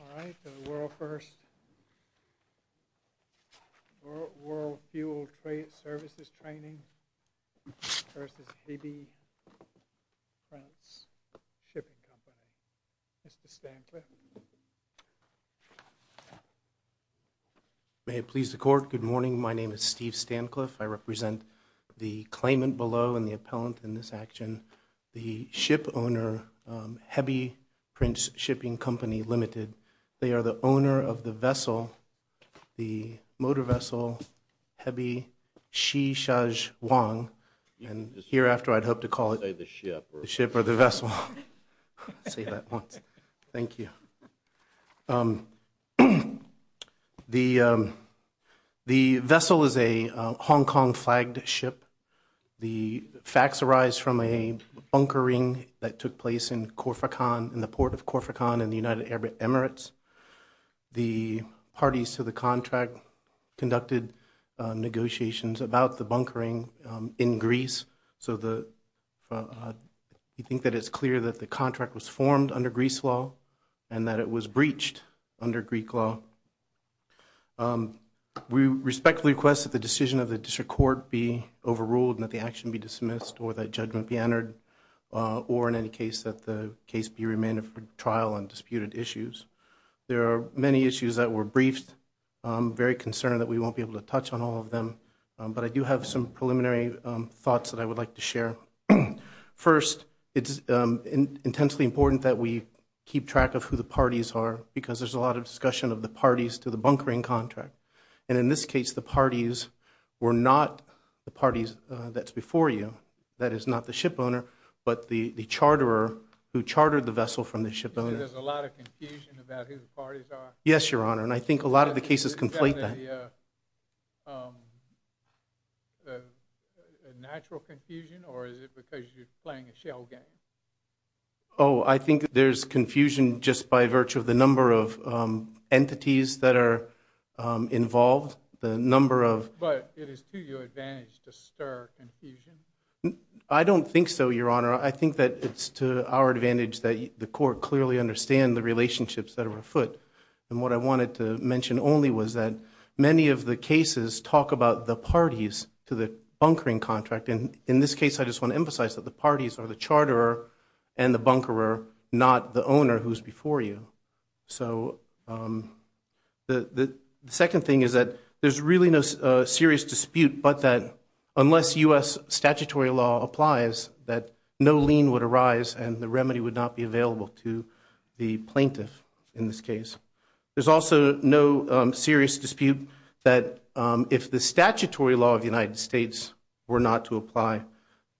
All right, the world first World fuel trade services training May it please the court. Good morning. My name is Steve Stancliffe I represent the claimant below and the appellant in this action the ship owner Hebei Prince Shipping Company Limited. They are the owner of the vessel the motor vessel Hebei Xishuang and hereafter I'd hope to call it the ship or the vessel. Thank you. The the vessel is a Hong Kong flagged ship. The facts arise from a bunkering that took place in Khorfakan in the port of Khorfakan in the United Arab Emirates. The parties to the contract conducted negotiations about the bunkering in Greece so the you think that it's clear that the contract was formed under Greece law and that it was breached under Greek law. We respectfully request that the decision of the district court be overruled and that the action be dismissed or that judgment be entered or in any case that the case be remanded for trial on disputed issues. There are many issues that were briefed. I'm very concerned that we won't be able to touch on all of them but I do have some preliminary thoughts that I would like to share. First, it's intensely important that we keep track of who the parties are because there's a lot of discussion of the parties to the bunkering contract and in this case the parties were not the parties that's before you. That is not the ship owner but the the charterer who chartered the vessel from the ship owner. Yes your honor and I think a lot of the cases conflate that. Oh I think there's confusion just by virtue of the number of entities that are involved. I don't think so your honor. I think that it's to our advantage that the court clearly understand the relationships that are afoot and what I wanted to mention only was that many of the cases talk about the parties to the bunkering contract and in this case I just want to emphasize that the parties are the not the owner who's before you. So the second thing is that there's really no serious dispute but that unless U.S. statutory law applies that no lien would arise and the remedy would not be available to the plaintiff in this case. There's also no serious dispute that if the statutory law of the United States were not to apply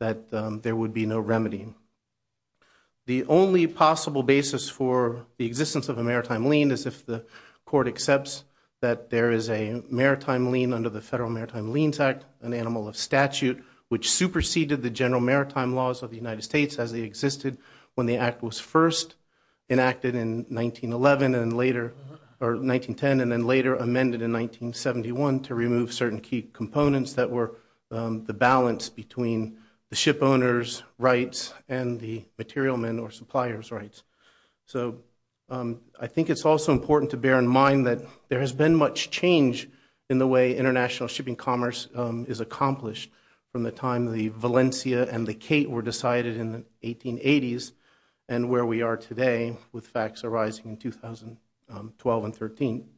that there would be no remedy. The only possible basis for the existence of a maritime lien is if the court accepts that there is a maritime lien under the Federal Maritime Liens Act, an animal of statute, which superseded the general maritime laws of the United States as they existed when the act was first enacted in 1910 and then later amended in the balance between the ship owners rights and the material men or suppliers rights. So I think it's also important to bear in mind that there has been much change in the way international shipping commerce is accomplished from the time the Valencia and the Kate were decided in the 1880s and where we are today with facts arising in 2012 and 13.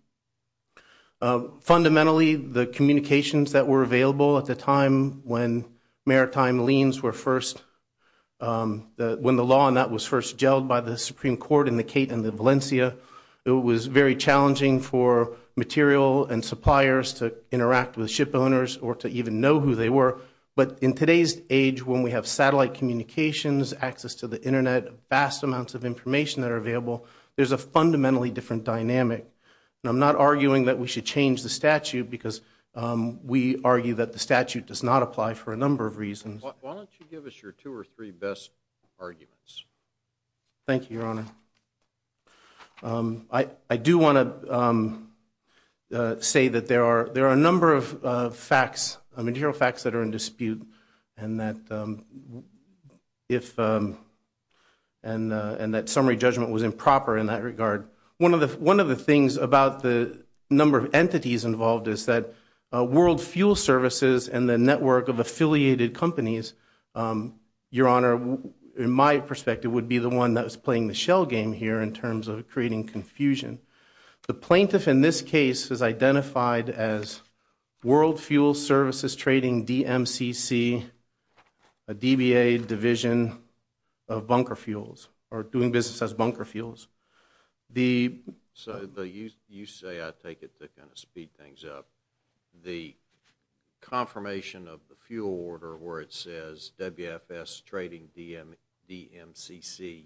Fundamentally the communications that were available at the time when maritime liens were first, when the law and that was first jelled by the Supreme Court in the Kate and the Valencia, it was very challenging for material and suppliers to interact with ship owners or to even know who they were. But in today's age when we have satellite communications, access to the Internet, vast amounts of information that are available, there's a fundamentally different dynamic. I'm not arguing that we should change the statute because we argue that the statute does not apply for a number of reasons. Why don't you give us your two or three best arguments? Thank you, Your Honor. I do want to say that there are there are a number of facts, material facts that are in dispute and that if and and that summary judgment was improper in that regard. One of the one of the things about the number of entities involved is that World Fuel Services and the network of affiliated companies, Your Honor, in my perspective would be the one that was playing the shell game here in terms of creating confusion. The plaintiff in this case is identified as World Fuel Services Trading DMCC, a DBA division of Bunker Fuels. So you say, I take it to kind of speed things up, the confirmation of the fuel order where it says WFS Trading DMCC,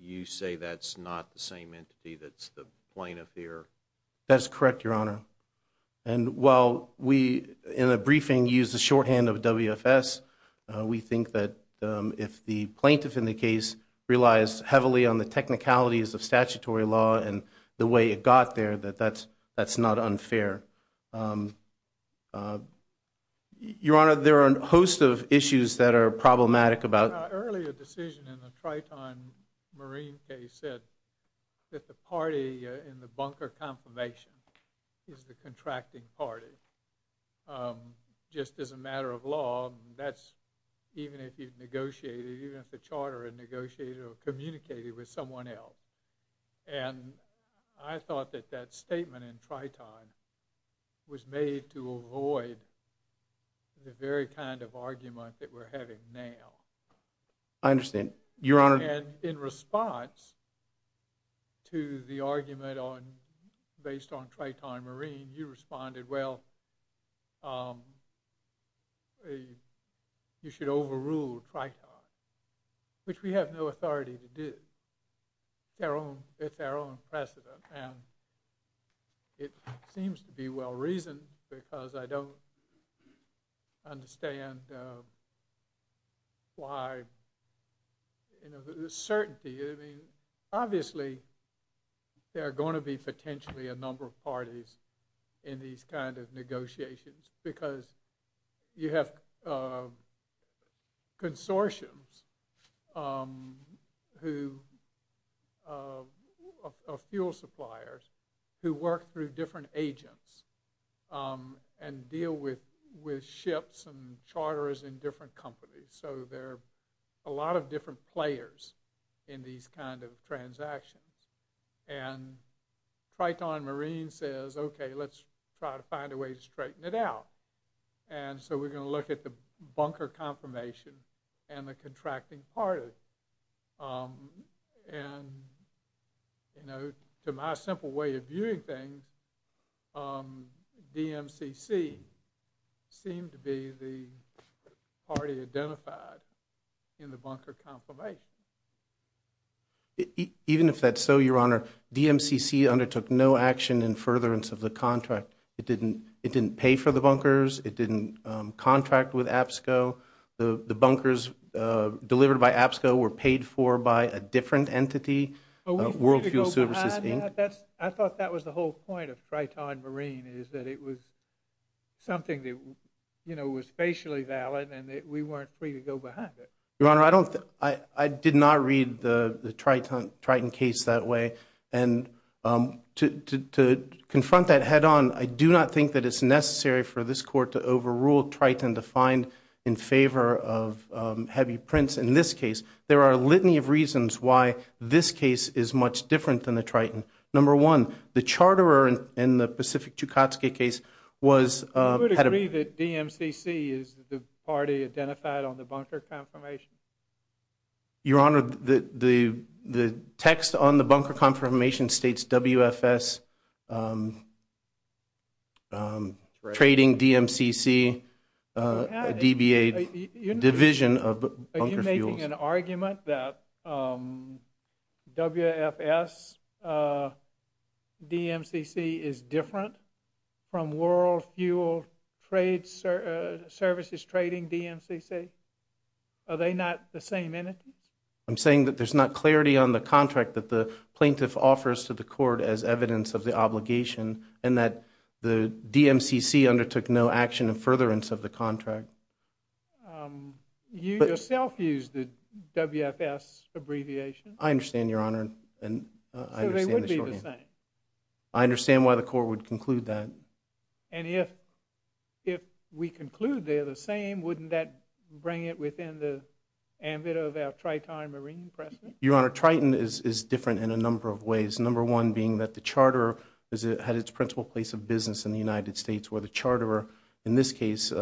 you say that's not the same entity that's the plaintiff here? That's correct, Your Honor. And while we in a briefing use the shorthand of WFS, we think that if the plaintiff in the technicalities of statutory law and the way it got there, that that's that's not unfair. Your Honor, there are a host of issues that are problematic about. Earlier decision in the Triton Marine case said that the party in the bunker confirmation is the contracting party. Just as a matter of law, that's even if the charter and negotiated or communicated with someone else. And I thought that that statement in Triton was made to avoid the very kind of argument that we're having now. I understand, Your Honor. And in response to the argument on based on Triton Marine, you responded, well, you should overrule Triton, which we have no authority to do. It's our own precedent. And it seems to be well-reasoned because I don't understand why, you know, the certainty, I mean, obviously there are going to be potentially a number of consortiums of fuel suppliers who work through different agents and deal with with ships and charters in different companies. So there are a lot of different players in these kind of transactions. And Triton Marine says, okay, let's try to find a way to straighten it out. And so we're going to look at the contracting party. And, you know, to my simple way of viewing things, DMCC seemed to be the party identified in the bunker confirmation. Even if that's so, Your Honor, DMCC undertook no action in furtherance of the contract. It didn't pay for the bunkers. It didn't contract with APSCO. The bunkers delivered by APSCO were paid for by a different entity, World Fuel Services, Inc. I thought that was the whole point of Triton Marine, is that it was something that, you know, was facially valid and that we weren't free to go behind it. Your Honor, I did not read the Triton case that way. And to think that it's necessary for this court to overrule Triton to find in favor of heavy prints in this case. There are a litany of reasons why this case is much different than the Triton. Number one, the charterer in the Pacific Chukotka case was... I would agree that DMCC is the party identified on the bunker confirmation. Your Honor, the text on the bunker confirmation states WFS trading DMCC DBA division of bunker fuels. Are you making an argument that WFS DMCC is different from World Fuel Services trading DMCC? Are they not the same entities? I'm saying that there's not clarity on the contract that the obligation and that the DMCC undertook no action in furtherance of the contract. You yourself used the WFS abbreviation. I understand, Your Honor. I understand why the court would conclude that. And if we conclude they're the same, wouldn't that bring it within the ambit of our Triton Marine precedent? Your Honor, Triton is different in a number of ways. Number one being that the charterer had its principal place of business in the United States where the charterer in this case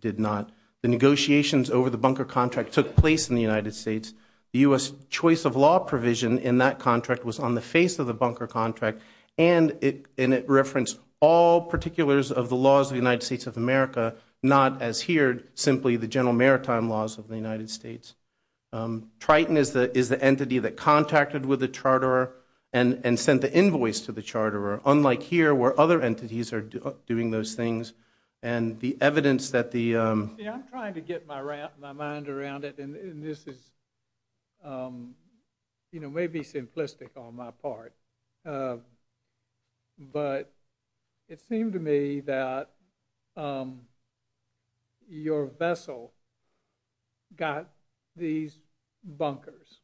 did not. The negotiations over the bunker contract took place in the United States. The U.S. choice of law provision in that contract was on the face of the bunker contract and it referenced all particulars of the laws of the United States of America, not as here simply the general maritime laws of the charterer and and sent the invoice to the charterer, unlike here where other entities are doing those things and the evidence that the... I'm trying to get my mind around it and this is you know maybe simplistic on my part, but it vessel got these bunkers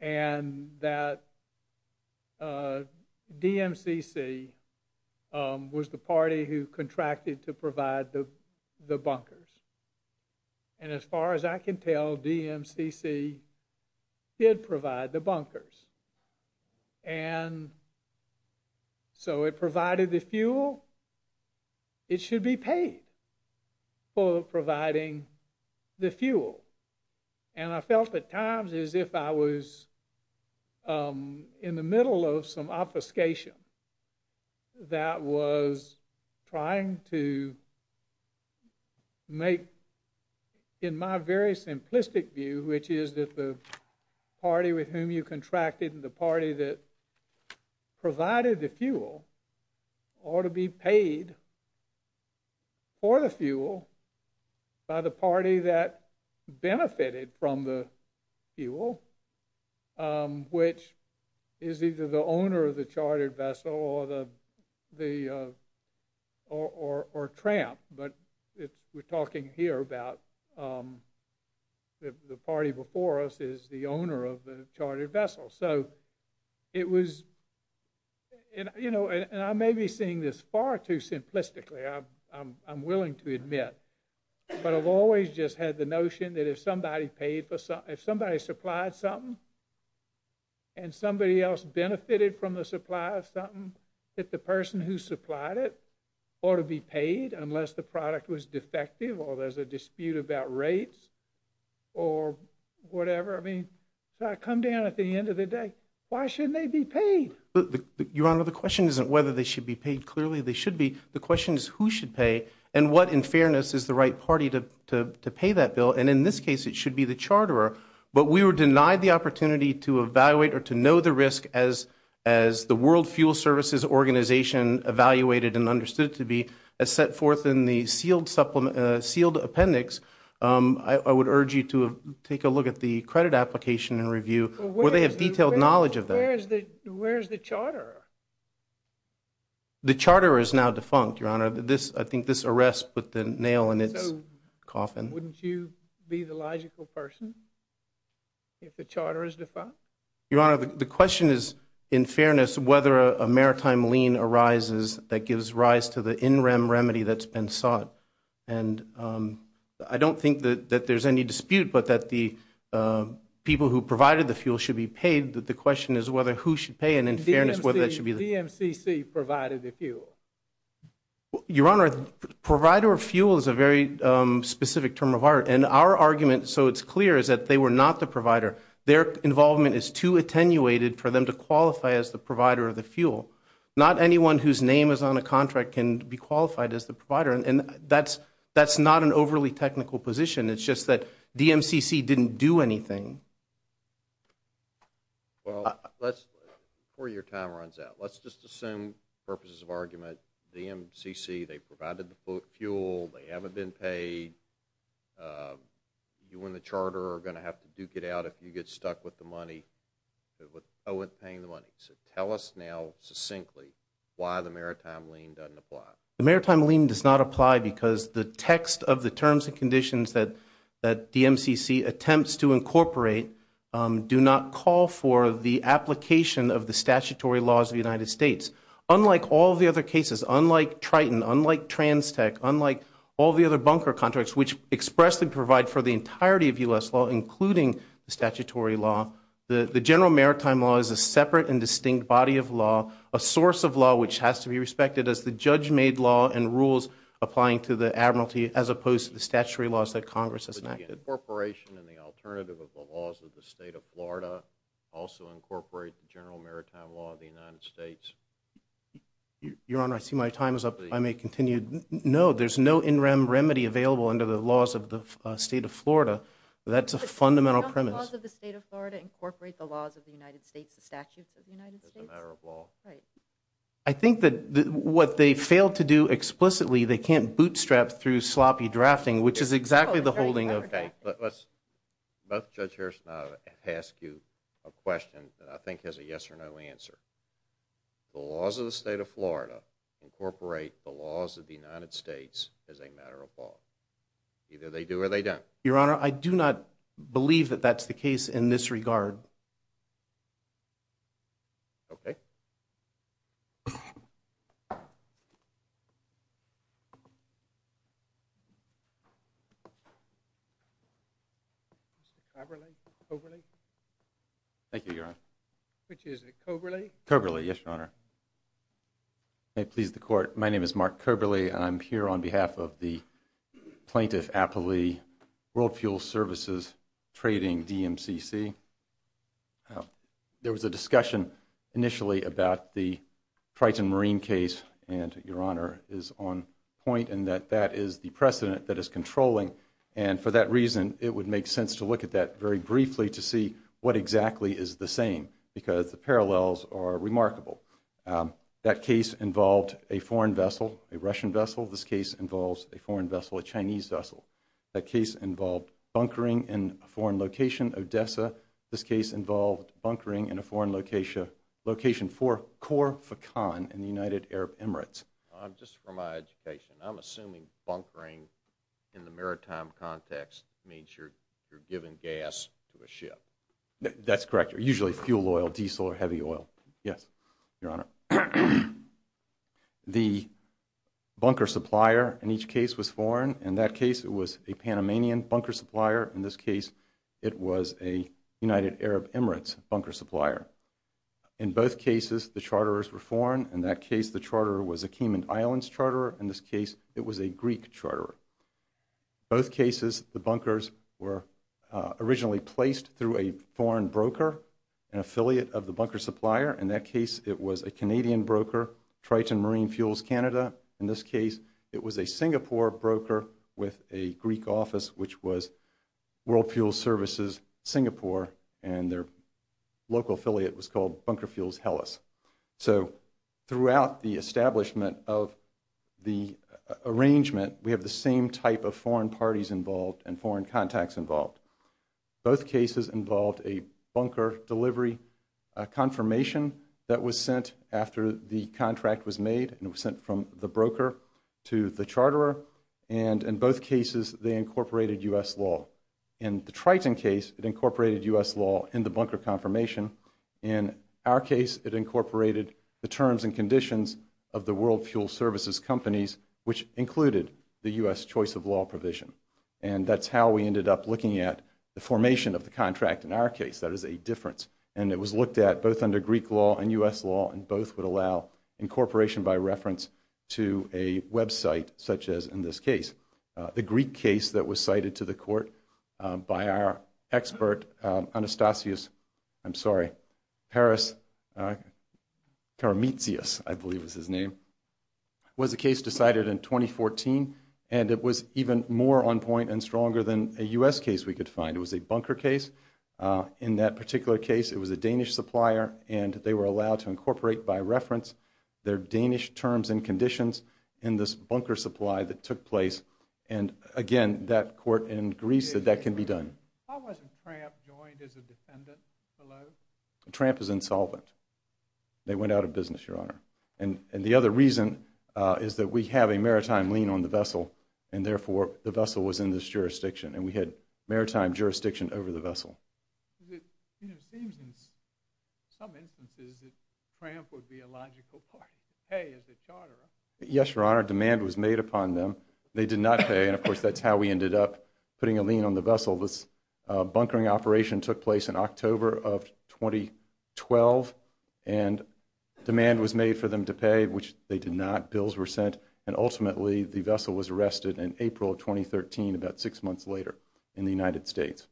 and that DMCC was the party who contracted to provide the the bunkers and as far as I can tell DMCC did provide the bunkers and so it provided the fuel and I felt at times as if I was in the middle of some obfuscation that was trying to make in my very simplistic view which is that the party with whom you contracted and the party that provided the fuel or to be paid for the fuel by the party that benefited from the fuel which is either the owner of the chartered vessel or the the or tramp but it's we're talking here about the party before us is the owner of the chartered vessel so it was you know and I may be seeing this far too simplistically I'm willing to admit but I've always just had the notion that if somebody paid for some if somebody supplied something and somebody else benefited from the supply of something that the person who supplied it ought to be paid unless the product was defective or there's a dispute about rates or whatever I mean so I come down at the clearly they should be the question is who should pay and what in fairness is the right party to pay that bill and in this case it should be the charter but we were denied the opportunity to evaluate or to know the risk as as the World Fuel Services organization evaluated and understood to be a set forth in the sealed supplement sealed appendix I would urge you to take a look at the credit application and review where they have detailed knowledge of where's the Charter the Charter is now defunct your honor this I think this arrest but the nail in its coffin wouldn't you be the logical person if the Charter is defunct your honor the question is in fairness whether a maritime lien arises that gives rise to the in rem remedy that's been sought and I don't think that there's any dispute but that the people who provided the whether who should pay and in fairness whether that should be the DMCC provided the fuel your honor provider of fuel is a very specific term of art and our argument so it's clear is that they were not the provider their involvement is too attenuated for them to qualify as the provider of the fuel not anyone whose name is on a contract can be qualified as the provider and that's that's not an overly technical position it's just that DMCC didn't do anything well let's for your time runs out let's just assume purposes of argument the MCC they provided the fuel they haven't been paid you win the Charter are going to have to duke it out if you get stuck with the money but with Owen paying the money so tell us now succinctly why the maritime lien doesn't apply the maritime lien does not apply because the text of the terms and conditions that that DMCC attempts to incorporate do not call for the application of the statutory laws of the United States unlike all the other cases unlike Triton unlike trans tech unlike all the other bunker contracts which expressly provide for the entirety of us law including the statutory law the the general maritime law is a separate and distinct body of law a source of law which has to be respected as the judge made law and rules applying to the Admiralty as opposed to the laws of the state of Florida also incorporate the general maritime law of the United States your honor I see my time is up I may continue no there's no in rem remedy available under the laws of the state of Florida that's a fundamental premise I think that what they failed to do explicitly they can't but judge Harrison I'll ask you a question that I think has a yes-or-no answer the laws of the state of Florida incorporate the laws of the United States as a matter of law either they do or they don't your honor I do not believe that that's the case in this regard okay overly overly thank you your honor which is a coberly coberly yes your honor I please the court my name is mark curberley I'm here on behalf of the plaintiff Appley world fuel services trading DMCC there was a discussion initially about the Triton marine case and your honor is on point and that that is the precedent that is controlling and for that reason it would make sense to look at that very briefly to see what exactly is the same because the parallels are remarkable that case involved a foreign vessel a Russian vessel this case involves a foreign vessel a Chinese vessel that case involved bunkering in foreign location Odessa this case involved bunkering in a foreign location location for core for con in the United Arab Emirates I'm just for my education I'm assuming bunkering in the maritime context made sure you're given gas to a ship that's correct you're usually fuel oil diesel or heavy oil yes your honor the bunker supplier in each case was foreign in that case it was a Panamanian bunker supplier in this case it was a United Arab Emirates bunker supplier in both cases the Charterers were foreign in that case the Charterer in this case it was a Greek Charterer both cases the bunkers were originally placed through a foreign broker an affiliate of the bunker supplier in that case it was a Canadian broker Triton marine fuels Canada in this case it was a Singapore broker with a Greek office which was world fuel services Singapore and their local affiliate was called bunker fuels Hellas so throughout the establishment of the arrangement we have the same type of foreign parties involved and foreign contacts involved both cases involved a bunker delivery confirmation that was sent after the contract was made and was sent from the broker to the Charterer and in both cases they incorporated US law in the Triton case incorporated US law in the bunker confirmation in our case it incorporated the terms and conditions of the world fuel services companies which included the US choice of law provision and that's how we ended up looking at the formation of the contract in our case that is a difference and it was looked at both under Greek law and US law and both would allow incorporation by reference to a website such as in this case the Greek case that was cited to the court by our expert Anastasios I'm sorry Paris Karameet see us I believe is his name was a case decided in 2014 and it was even more on point and stronger than a US case we could find it was a bunker case in that particular case it was a Danish supplier and they were allowed to incorporate by reference their Danish terms and conditions in this bunker supply that took place and again that court in Greece said that can be done joined as a defendant hello tramp is insolvent they went out of business your honor and and the other reason is that we have a maritime lien on the vessel and therefore the vessel was in this jurisdiction and we had maritime jurisdiction over the vessel yes your honor demand was made upon them they did not pay and of course that's how we ended up putting a lien on the vessel this bunkering operation took place in October of 2012 and demand was made for them to pay which they did not bills were sent and ultimately the vessel was arrested in April 2013 about six months later in the United States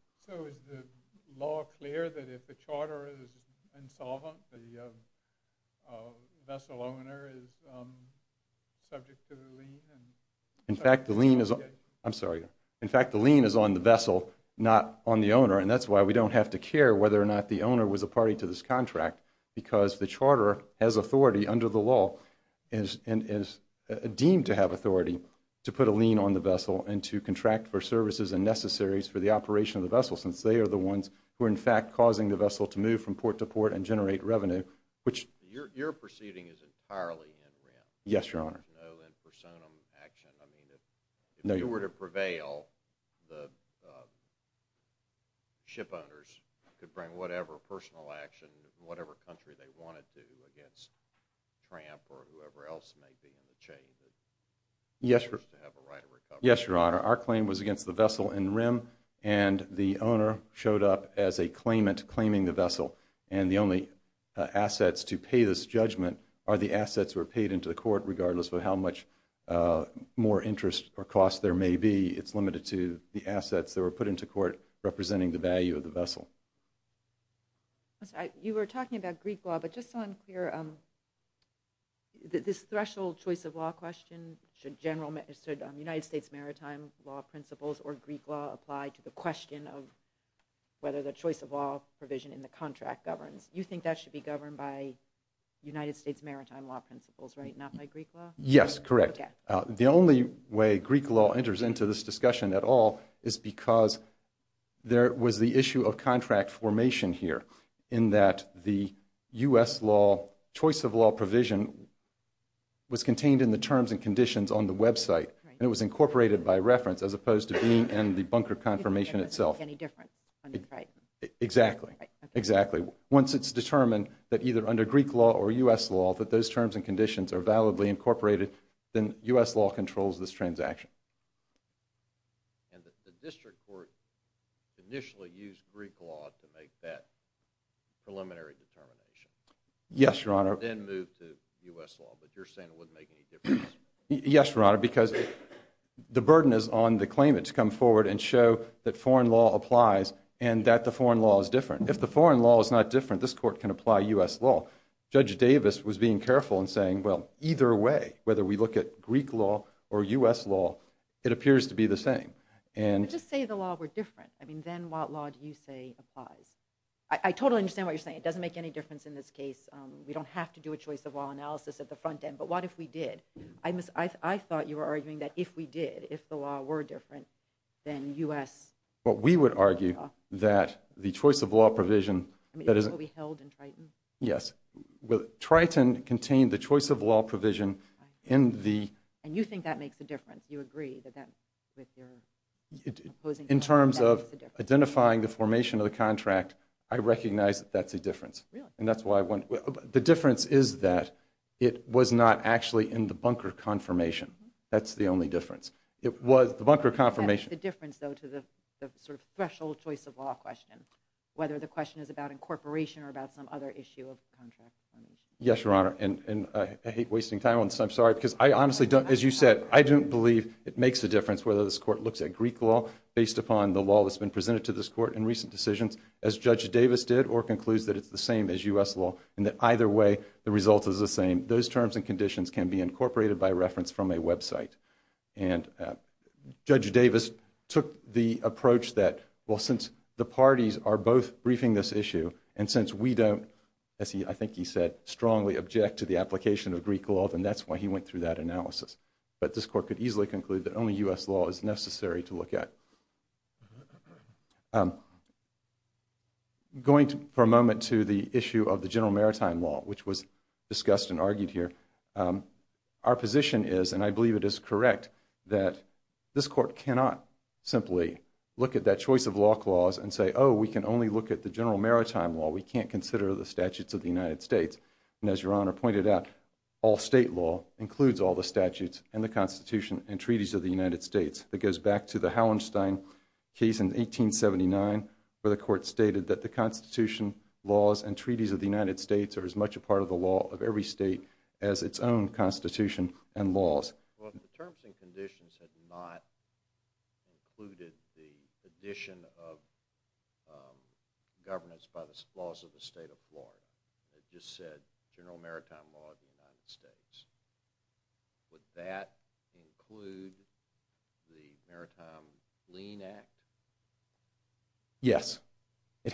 in fact the lien is on the vessel not on the owner and that's why we don't have to care whether or not the owner was a party to this contract because the Charter has authority under the law and is deemed to have authority to put a lien on the vessel and to contract for services and necessaries for the operation of the vessel since they are the ones who are in fact causing the vessel to move from yes yes your honor our claim was against the vessel in rim and the owner showed up as a claimant claiming the vessel and the only assets to pay this judgment are the assets were paid into the court regardless of how much more interest or cost there may be it's limited to the assets that were put into court representing the value of the vessel you were talking about Greek law but just unclear on this threshold choice of law question should general ministered on the United States maritime law principles or Greek law apply to the question of whether the choice of law provision in the contract governs you think that should be governed by United States maritime law principles right not yes correct the only way Greek law enters into this discussion at all is because there was the issue of contract formation here in that the US law choice of law provision was contained in the terms and conditions on the website and it was incorporated by reference as opposed to being and the bunker confirmation itself any different exactly exactly once it's determined that either under Greek law or US law that those terms and conditions are incorporated then US law controls this transaction yes your honor yes your honor because the burden is on the claim it's come forward and show that foreign law applies and that the foreign law is different if the foreign law is not different this court can apply US law judge Davis was being careful and saying well either way whether we look at Greek law or US law it appears to be the same and just say the law we're different I mean then what law do you say applies I totally understand what you're saying it doesn't make any difference in this case we don't have to do a choice of law analysis at the front end but what if we did I miss I thought you were arguing that if we did if the law were different then u.s. what we would argue that the choice of law provision yes well Triton contained the choice of law provision in the and you think that makes a difference you agree that that in terms of identifying the formation of the contract I recognize that that's a difference and that's why I went the difference is that it was not actually in the bunker confirmation that's the only difference it was the bunker confirmation difference though to the sort of threshold choice of law question whether the question is about incorporation or about some other issue of contract yes your honor and I hate wasting time on so I'm sorry because I honestly don't as you said I don't believe it makes a difference whether this court looks at Greek law based upon the law that's been presented to this court in recent decisions as judge Davis did or concludes that it's the same as US law and that either way the result is the same those terms and conditions can be incorporated by reference from a approach that will since the parties are both briefing this issue and since we don't see I think he said strongly object to the application of recall and that's why he went through that analysis but this court could easily conclude the only US law is necessary to look at going for a moment to the issue of the general maritime law which was discussed and argued here our position is and I look at that choice of law clause and say oh we can only look at the general maritime law we can't consider the statutes of the United States and as your honor pointed out all state law includes all the statutes and the Constitution and treaties of the United States that goes back to the Hallenstein case in 1879 where the court stated that the Constitution laws and treaties of the United States are as much a part of the law of every state as its own Constitution and laws yes it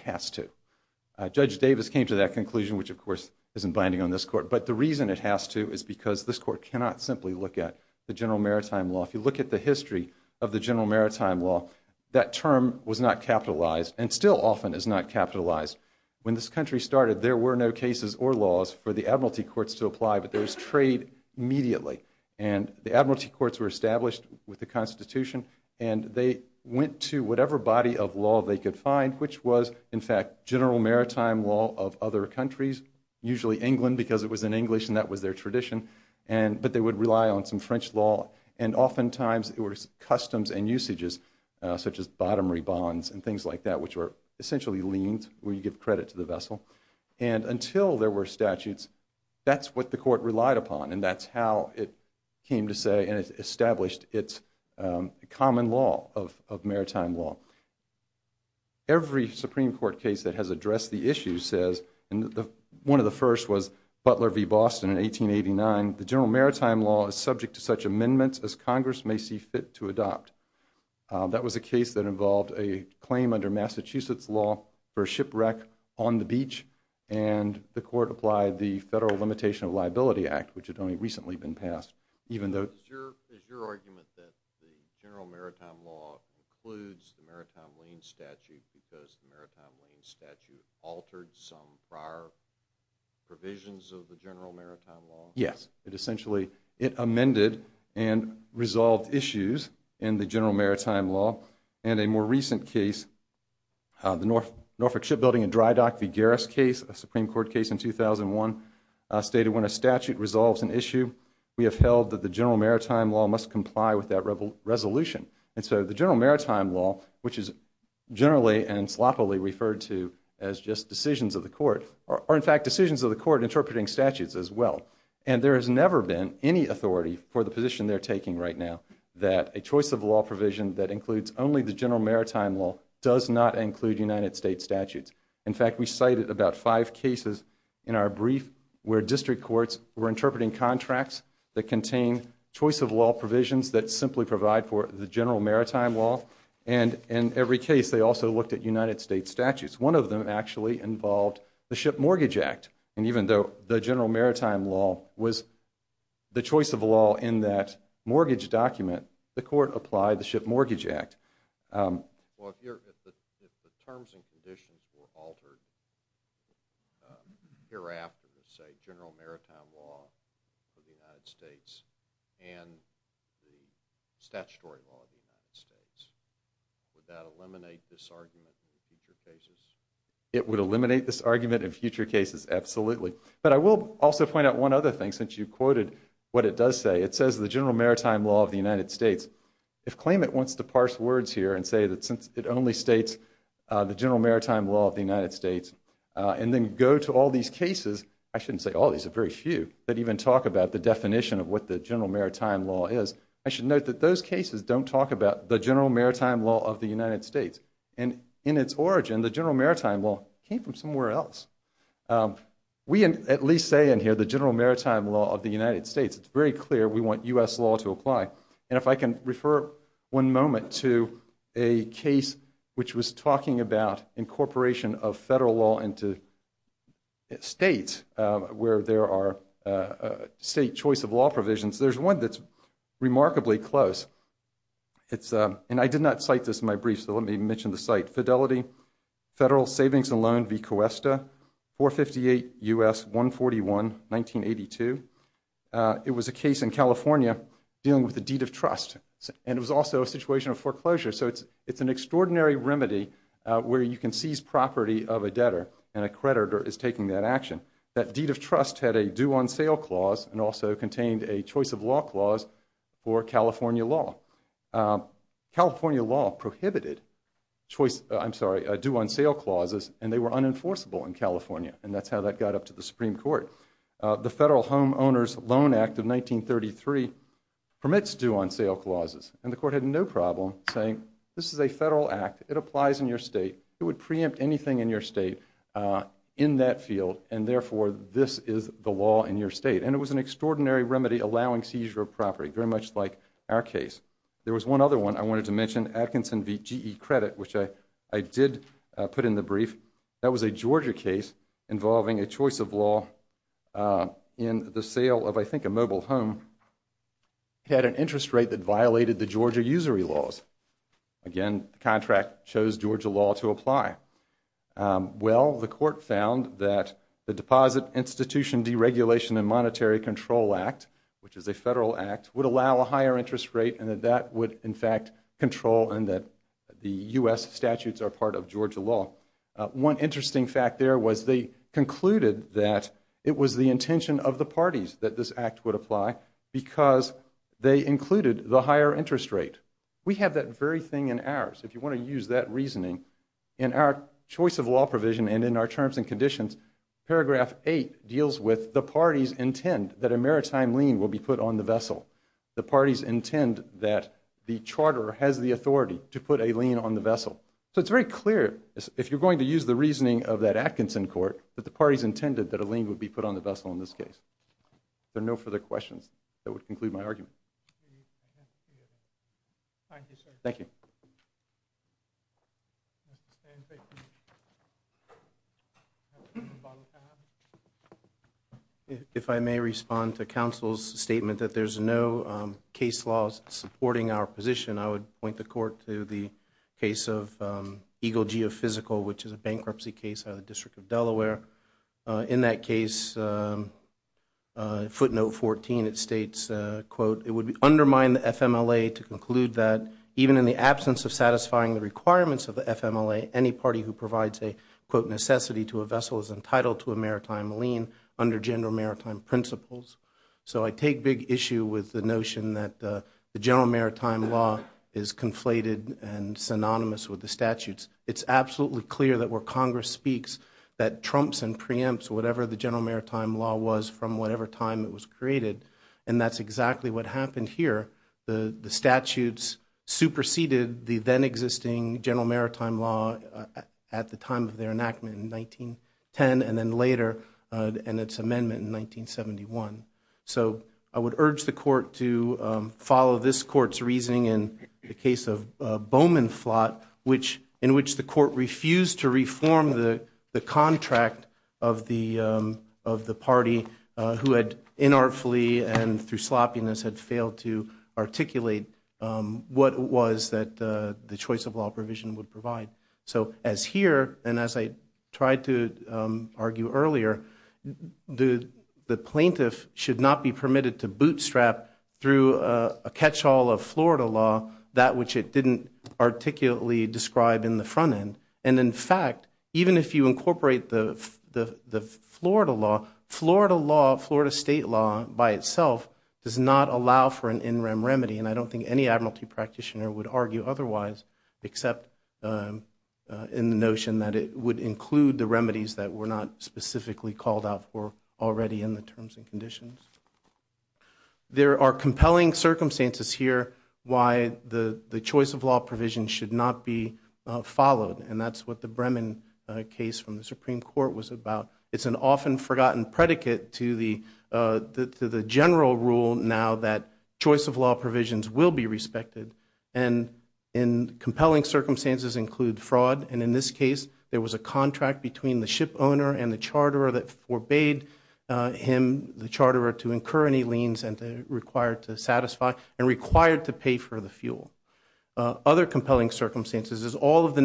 has to judge Davis came to that conclusion which of course isn't binding on this court but the reason it has to is because this court cannot simply look at the general maritime law if you look at the history of the general maritime law that term was not capitalized and still often is not capitalized when this country started there were no cases or laws for the Admiralty courts to apply but there's trade immediately and the Admiralty courts were established with the Constitution and they went to whatever body of law they could find which was in fact general maritime law of other countries usually England because it was in English and that was their tradition and but they would rely on some French law and oftentimes it was customs and usages such as bottom rebonds and things like that which were essentially liens where you give credit to the vessel and until there were statutes that's what the court relied upon and that's how it came to say and it's established its common law of maritime law every Supreme Court case that has addressed the issue says and the one of the first was Butler v. Boston in 1889 the general maritime law is subject to such amendments as Congress may see fit to adopt that was a case that involved a claim under Massachusetts law for a shipwreck on the beach and the court applied the Federal Limitation of Liability Act which had only recently been passed even though it essentially it amended and resolved issues in the general maritime law and a more recent case the Norfolk Shipbuilding and Drydock v. Garris case a Supreme Court case in 2001 stated when a statute resolves an issue we have held that the general maritime law must comply with that rebel resolution and so the general maritime law which is generally and sloppily referred to as just decisions of the court are in fact decisions of the court interpreting statutes as well and there has never been any authority for the position they're taking right now that a choice of law provision that includes only the general maritime law does not include United States statutes in fact we cited about five cases in our brief where district courts were interpreting contracts that contain choice of law provisions that simply provide for the general maritime law and in every case they also looked at United States statutes one of them actually involved the Ship Mortgage Act and even though the general maritime law was the choice of law in that mortgage document the court applied the Ship Mortgage Act for the United States and the statutory law of the United States. Would that eliminate this argument in future cases? It would eliminate this argument in future cases absolutely but I will also point out one other thing since you quoted what it does say it says the general maritime law of the United States if claimant wants to parse words here and say that since it only states the general maritime law of the United States and then go to all these cases I shouldn't say all these are very few that even talk about the definition of what the general maritime law is I should note that those cases don't talk about the general maritime law of the United States and in its origin the general maritime law came from somewhere else we at least say in here the general maritime law of the United States it's very clear we want U.S. law to apply and if I can refer one moment to a case which was talking about incorporation of federal law into states where there are state choice of law provisions there's one that's remarkably close it's a and I did not cite this in my brief so let me mention the site Fidelity Federal Savings and Loan v. Cuesta 458 U.S. 141 1982 it was a case in California dealing with the deed of trust and it was also a situation of foreclosure so it's it's an extraordinary remedy where you can seize property of a debtor and a creditor is taking that action that deed of trust had a due-on-sale clause and also contained a choice of law clause for California law California law prohibited choice I'm sorry a due-on-sale clauses and they were unenforceable in California and that's how that got up to the Supreme Court the Federal Homeowners Loan Act of 1933 permits due-on-sale clauses and the act it applies in your state it would preempt anything in your state in that field and therefore this is the law in your state and it was an extraordinary remedy allowing seizure of property very much like our case there was one other one I wanted to mention Atkinson v. GE credit which I I did put in the brief that was a Georgia case involving a choice of law in the sale of I think a mobile home had an interest rate that violated the Georgia usury laws again contract shows Georgia law to apply well the court found that the deposit institution deregulation and monetary control act which is a federal act would allow a higher interest rate and that would in fact control and that the US statutes are part of Georgia law one interesting fact there was they concluded that it was the intention of the parties that this act would apply because they included the higher interest rate we have that very thing in our choice of law provision and in our terms and conditions paragraph 8 deals with the parties intend that a maritime lien will be put on the vessel the parties intend that the Charter has the authority to put a lien on the vessel so it's very clear if you're going to use the reasoning of that Atkinson court that the parties intended that a lien would be put on the vessel in this case no further questions that would conclude my argument thank you if I may respond to counsel's statement that there's no case laws supporting our position I would point the court to the case of Eagle geophysical which is a footnote 14 it states quote it would be undermined the FMLA to conclude that even in the absence of satisfying the requirements of the FMLA any party who provides a quote necessity to a vessel is entitled to a maritime lien under gender maritime principles so I take big issue with the notion that the general maritime law is conflated and synonymous with the statutes it's absolutely clear that where Congress speaks that trumps and preempts whatever the general maritime law was from whatever time it was created and that's exactly what happened here the the statutes superseded the then existing general maritime law at the time of their enactment in 1910 and then later and its amendment in 1971 so I would urge the court to follow this court's reasoning in the case of Bowman flot which in which the court refused to of the party who had inartfully and through sloppiness had failed to articulate what was that the choice of law provision would provide so as here and as I tried to argue earlier the the plaintiff should not be permitted to bootstrap through a catch-all of Florida law that which it didn't articulately describe in the front end and in fact even if you incorporate the the the Florida law Florida law Florida state law by itself does not allow for an in rem remedy and I don't think any Admiralty practitioner would argue otherwise except in the notion that it would include the remedies that were not specifically called out for already in the terms and conditions there are compelling circumstances here why the the choice of law provision should not be followed and that's what the Bremen case from the Supreme Court was about it's an often forgotten predicate to the to the general rule now that choice of law provisions will be respected and in compelling circumstances include fraud and in this case there was a contract between the ship owner and the charter that forbade him the charter to incur any liens and required to satisfy and required to pay for the fuel other compelling circumstances is all of the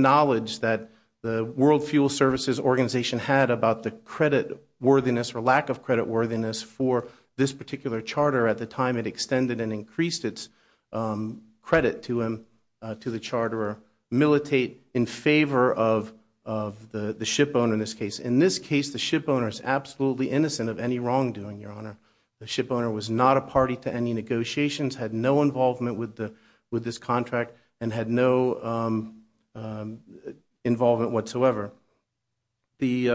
credit worthiness for lack of credit worthiness for this particular charter at the time it extended and increased its credit to him to the charter militate in favor of of the the ship owner in this case in this case the ship owner is absolutely innocent of any wrongdoing your honor the ship owner was not a party to any negotiations had no involvement with the with this contract and had no involvement whatsoever the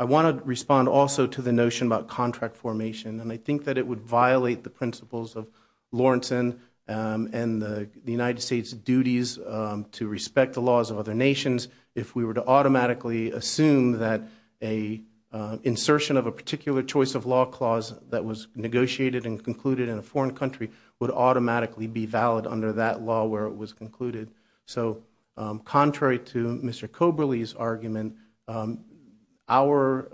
I want to respond also to the notion about contract formation and I think that it would violate the principles of Lawrenson and the United States duties to respect the laws of other nations if we were to automatically assume that a insertion of a particular choice of law clause that was negotiated and concluded in a foreign country would automatically be valid under that law where it was concluded so contrary to Mr. Coberly's argument our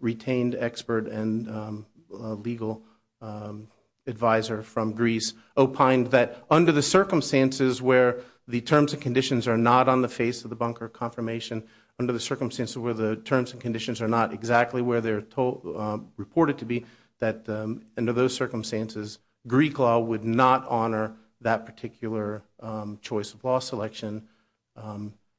retained expert and legal advisor from Greece opined that under the circumstances where the terms and conditions are not on the face of the bunker confirmation under the circumstances where the terms and conditions are not exactly where they're told reported to be that under those that particular choice of law selection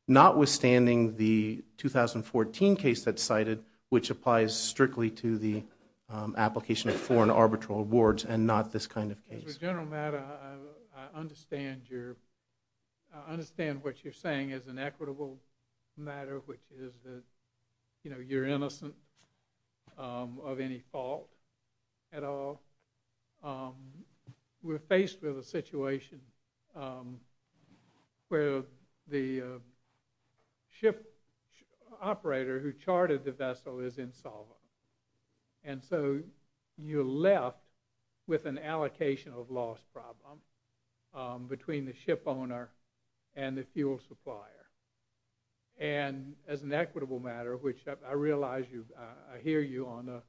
notwithstanding the 2014 case that cited which applies strictly to the application of foreign arbitral awards and not this kind of case. As a general matter I understand what you're saying is an equitable matter which is that you're innocent of any fault at all we're faced with a situation where the ship operator who charted the vessel is insolvent and so you're left with an allocation of loss problem between the ship owner and the fuel supplier and as an equitable matter which I realize you I hear you on a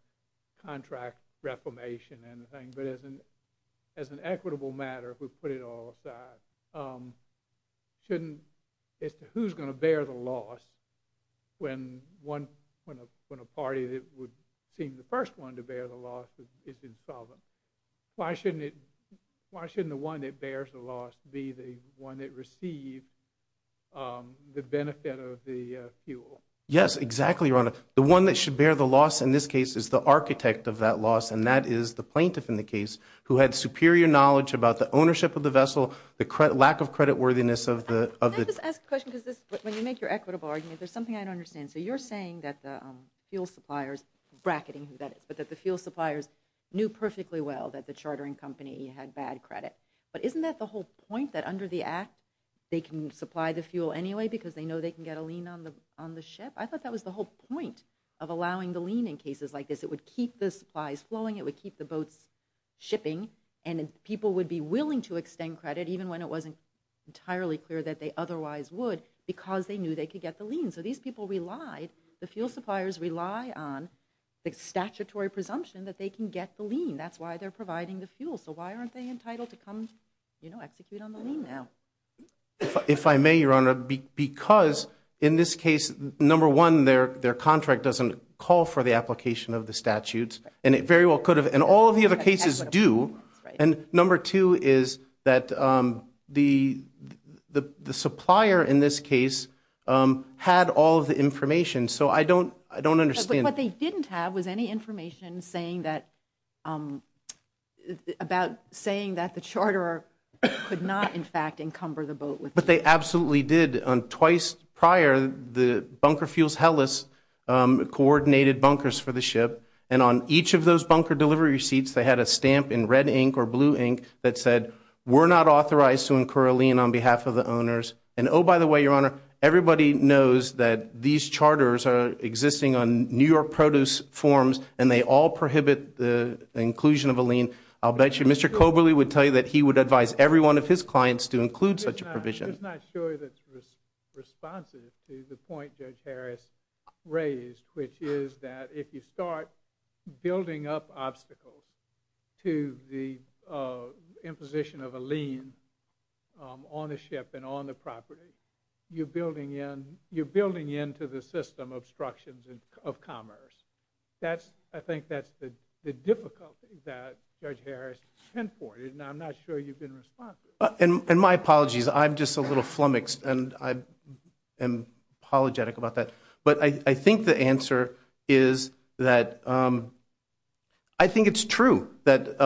contract reformation and the thing but isn't as an equitable matter if we put it all aside shouldn't as to who's going to bear the loss when one when a party that would seem the first one to bear the loss is insolvent why shouldn't it why shouldn't the one that bears the loss be the one that received the benefit of the fuel? Yes exactly your honor the one that should bear the loss in this case is the architect of that loss and that is the plaintiff in the case who had superior knowledge about the ownership of the vessel the credit lack of credit worthiness of the... Can I just ask a question because when you make your equitable argument there's something I don't understand so you're saying that the fuel suppliers bracketing who that is but that the fuel suppliers knew perfectly well that the chartering company had bad credit but isn't that the whole point that under the act they can supply the fuel anyway because they know they can get a lien on the on the ship I thought that was the whole point of allowing the lien in cases like this it would keep the supplies flowing it would keep the boats shipping and people would be willing to extend credit even when it wasn't entirely clear that they otherwise would because they knew they could get the lien so these people relied the fuel suppliers rely on the statutory presumption that they can get the lien that's why they're providing the fuel so why aren't they entitled to come you know execute on the lien now? If I may your honor because in this case number one their their contract doesn't call for the application of the statutes and it very well could have and all of the other cases do and number two is that the the the supplier in this case had all the information so I don't I don't understand what they didn't have was any information saying that about saying that the Charter could not in fact encumber the boat with but they absolutely did on twice prior the bunker fuels helis coordinated bunkers for the ship and on each of those bunker delivery receipts they had a stamp in red ink or blue ink that said we're not authorized to incur a lien on behalf of the owners and oh by the way your honor everybody knows that these charters are existing on New York produce forms and they all prohibit the inclusion of a lien I'll bet you mr. Coberly would tell you that he would advise every one of his clients to include such a provision it's not sure that's responsive to the point judge Harris raised which is that if you start building up obstacles to the imposition of a lien on the ship and on the property you're building in you're building into the system obstructions and of commerce that's I think that's the difficulty that judge little flummoxed and I am apologetic about that but I think the answer is that I think it's true that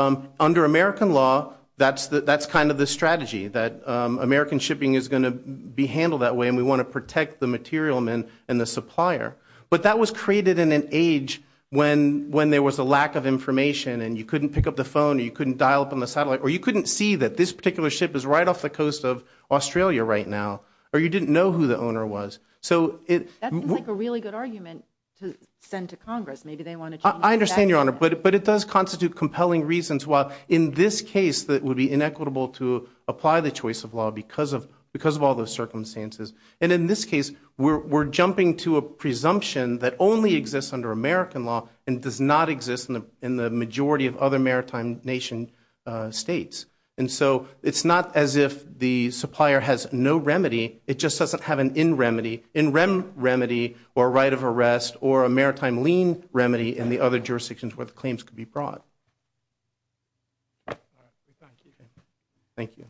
under American law that's that that's kind of the strategy that American shipping is going to be handled that way and we want to protect the material men and the supplier but that was created in an age when when there was a lack of information and you couldn't pick up the phone you couldn't dial up on the satellite or you couldn't see that this right now or you didn't know who the owner was so it was like a really good argument to send to Congress maybe they want to I understand your honor but it but it does constitute compelling reasons while in this case that would be inequitable to apply the choice of law because of because of all those circumstances and in this case we're jumping to a presumption that only exists under American law and does not exist in the in the majority of other maritime nation states and so it's not as if the supplier has no remedy it just doesn't have an in remedy in REM remedy or right of arrest or a maritime lien remedy in the other jurisdictions where the claims could be brought thank you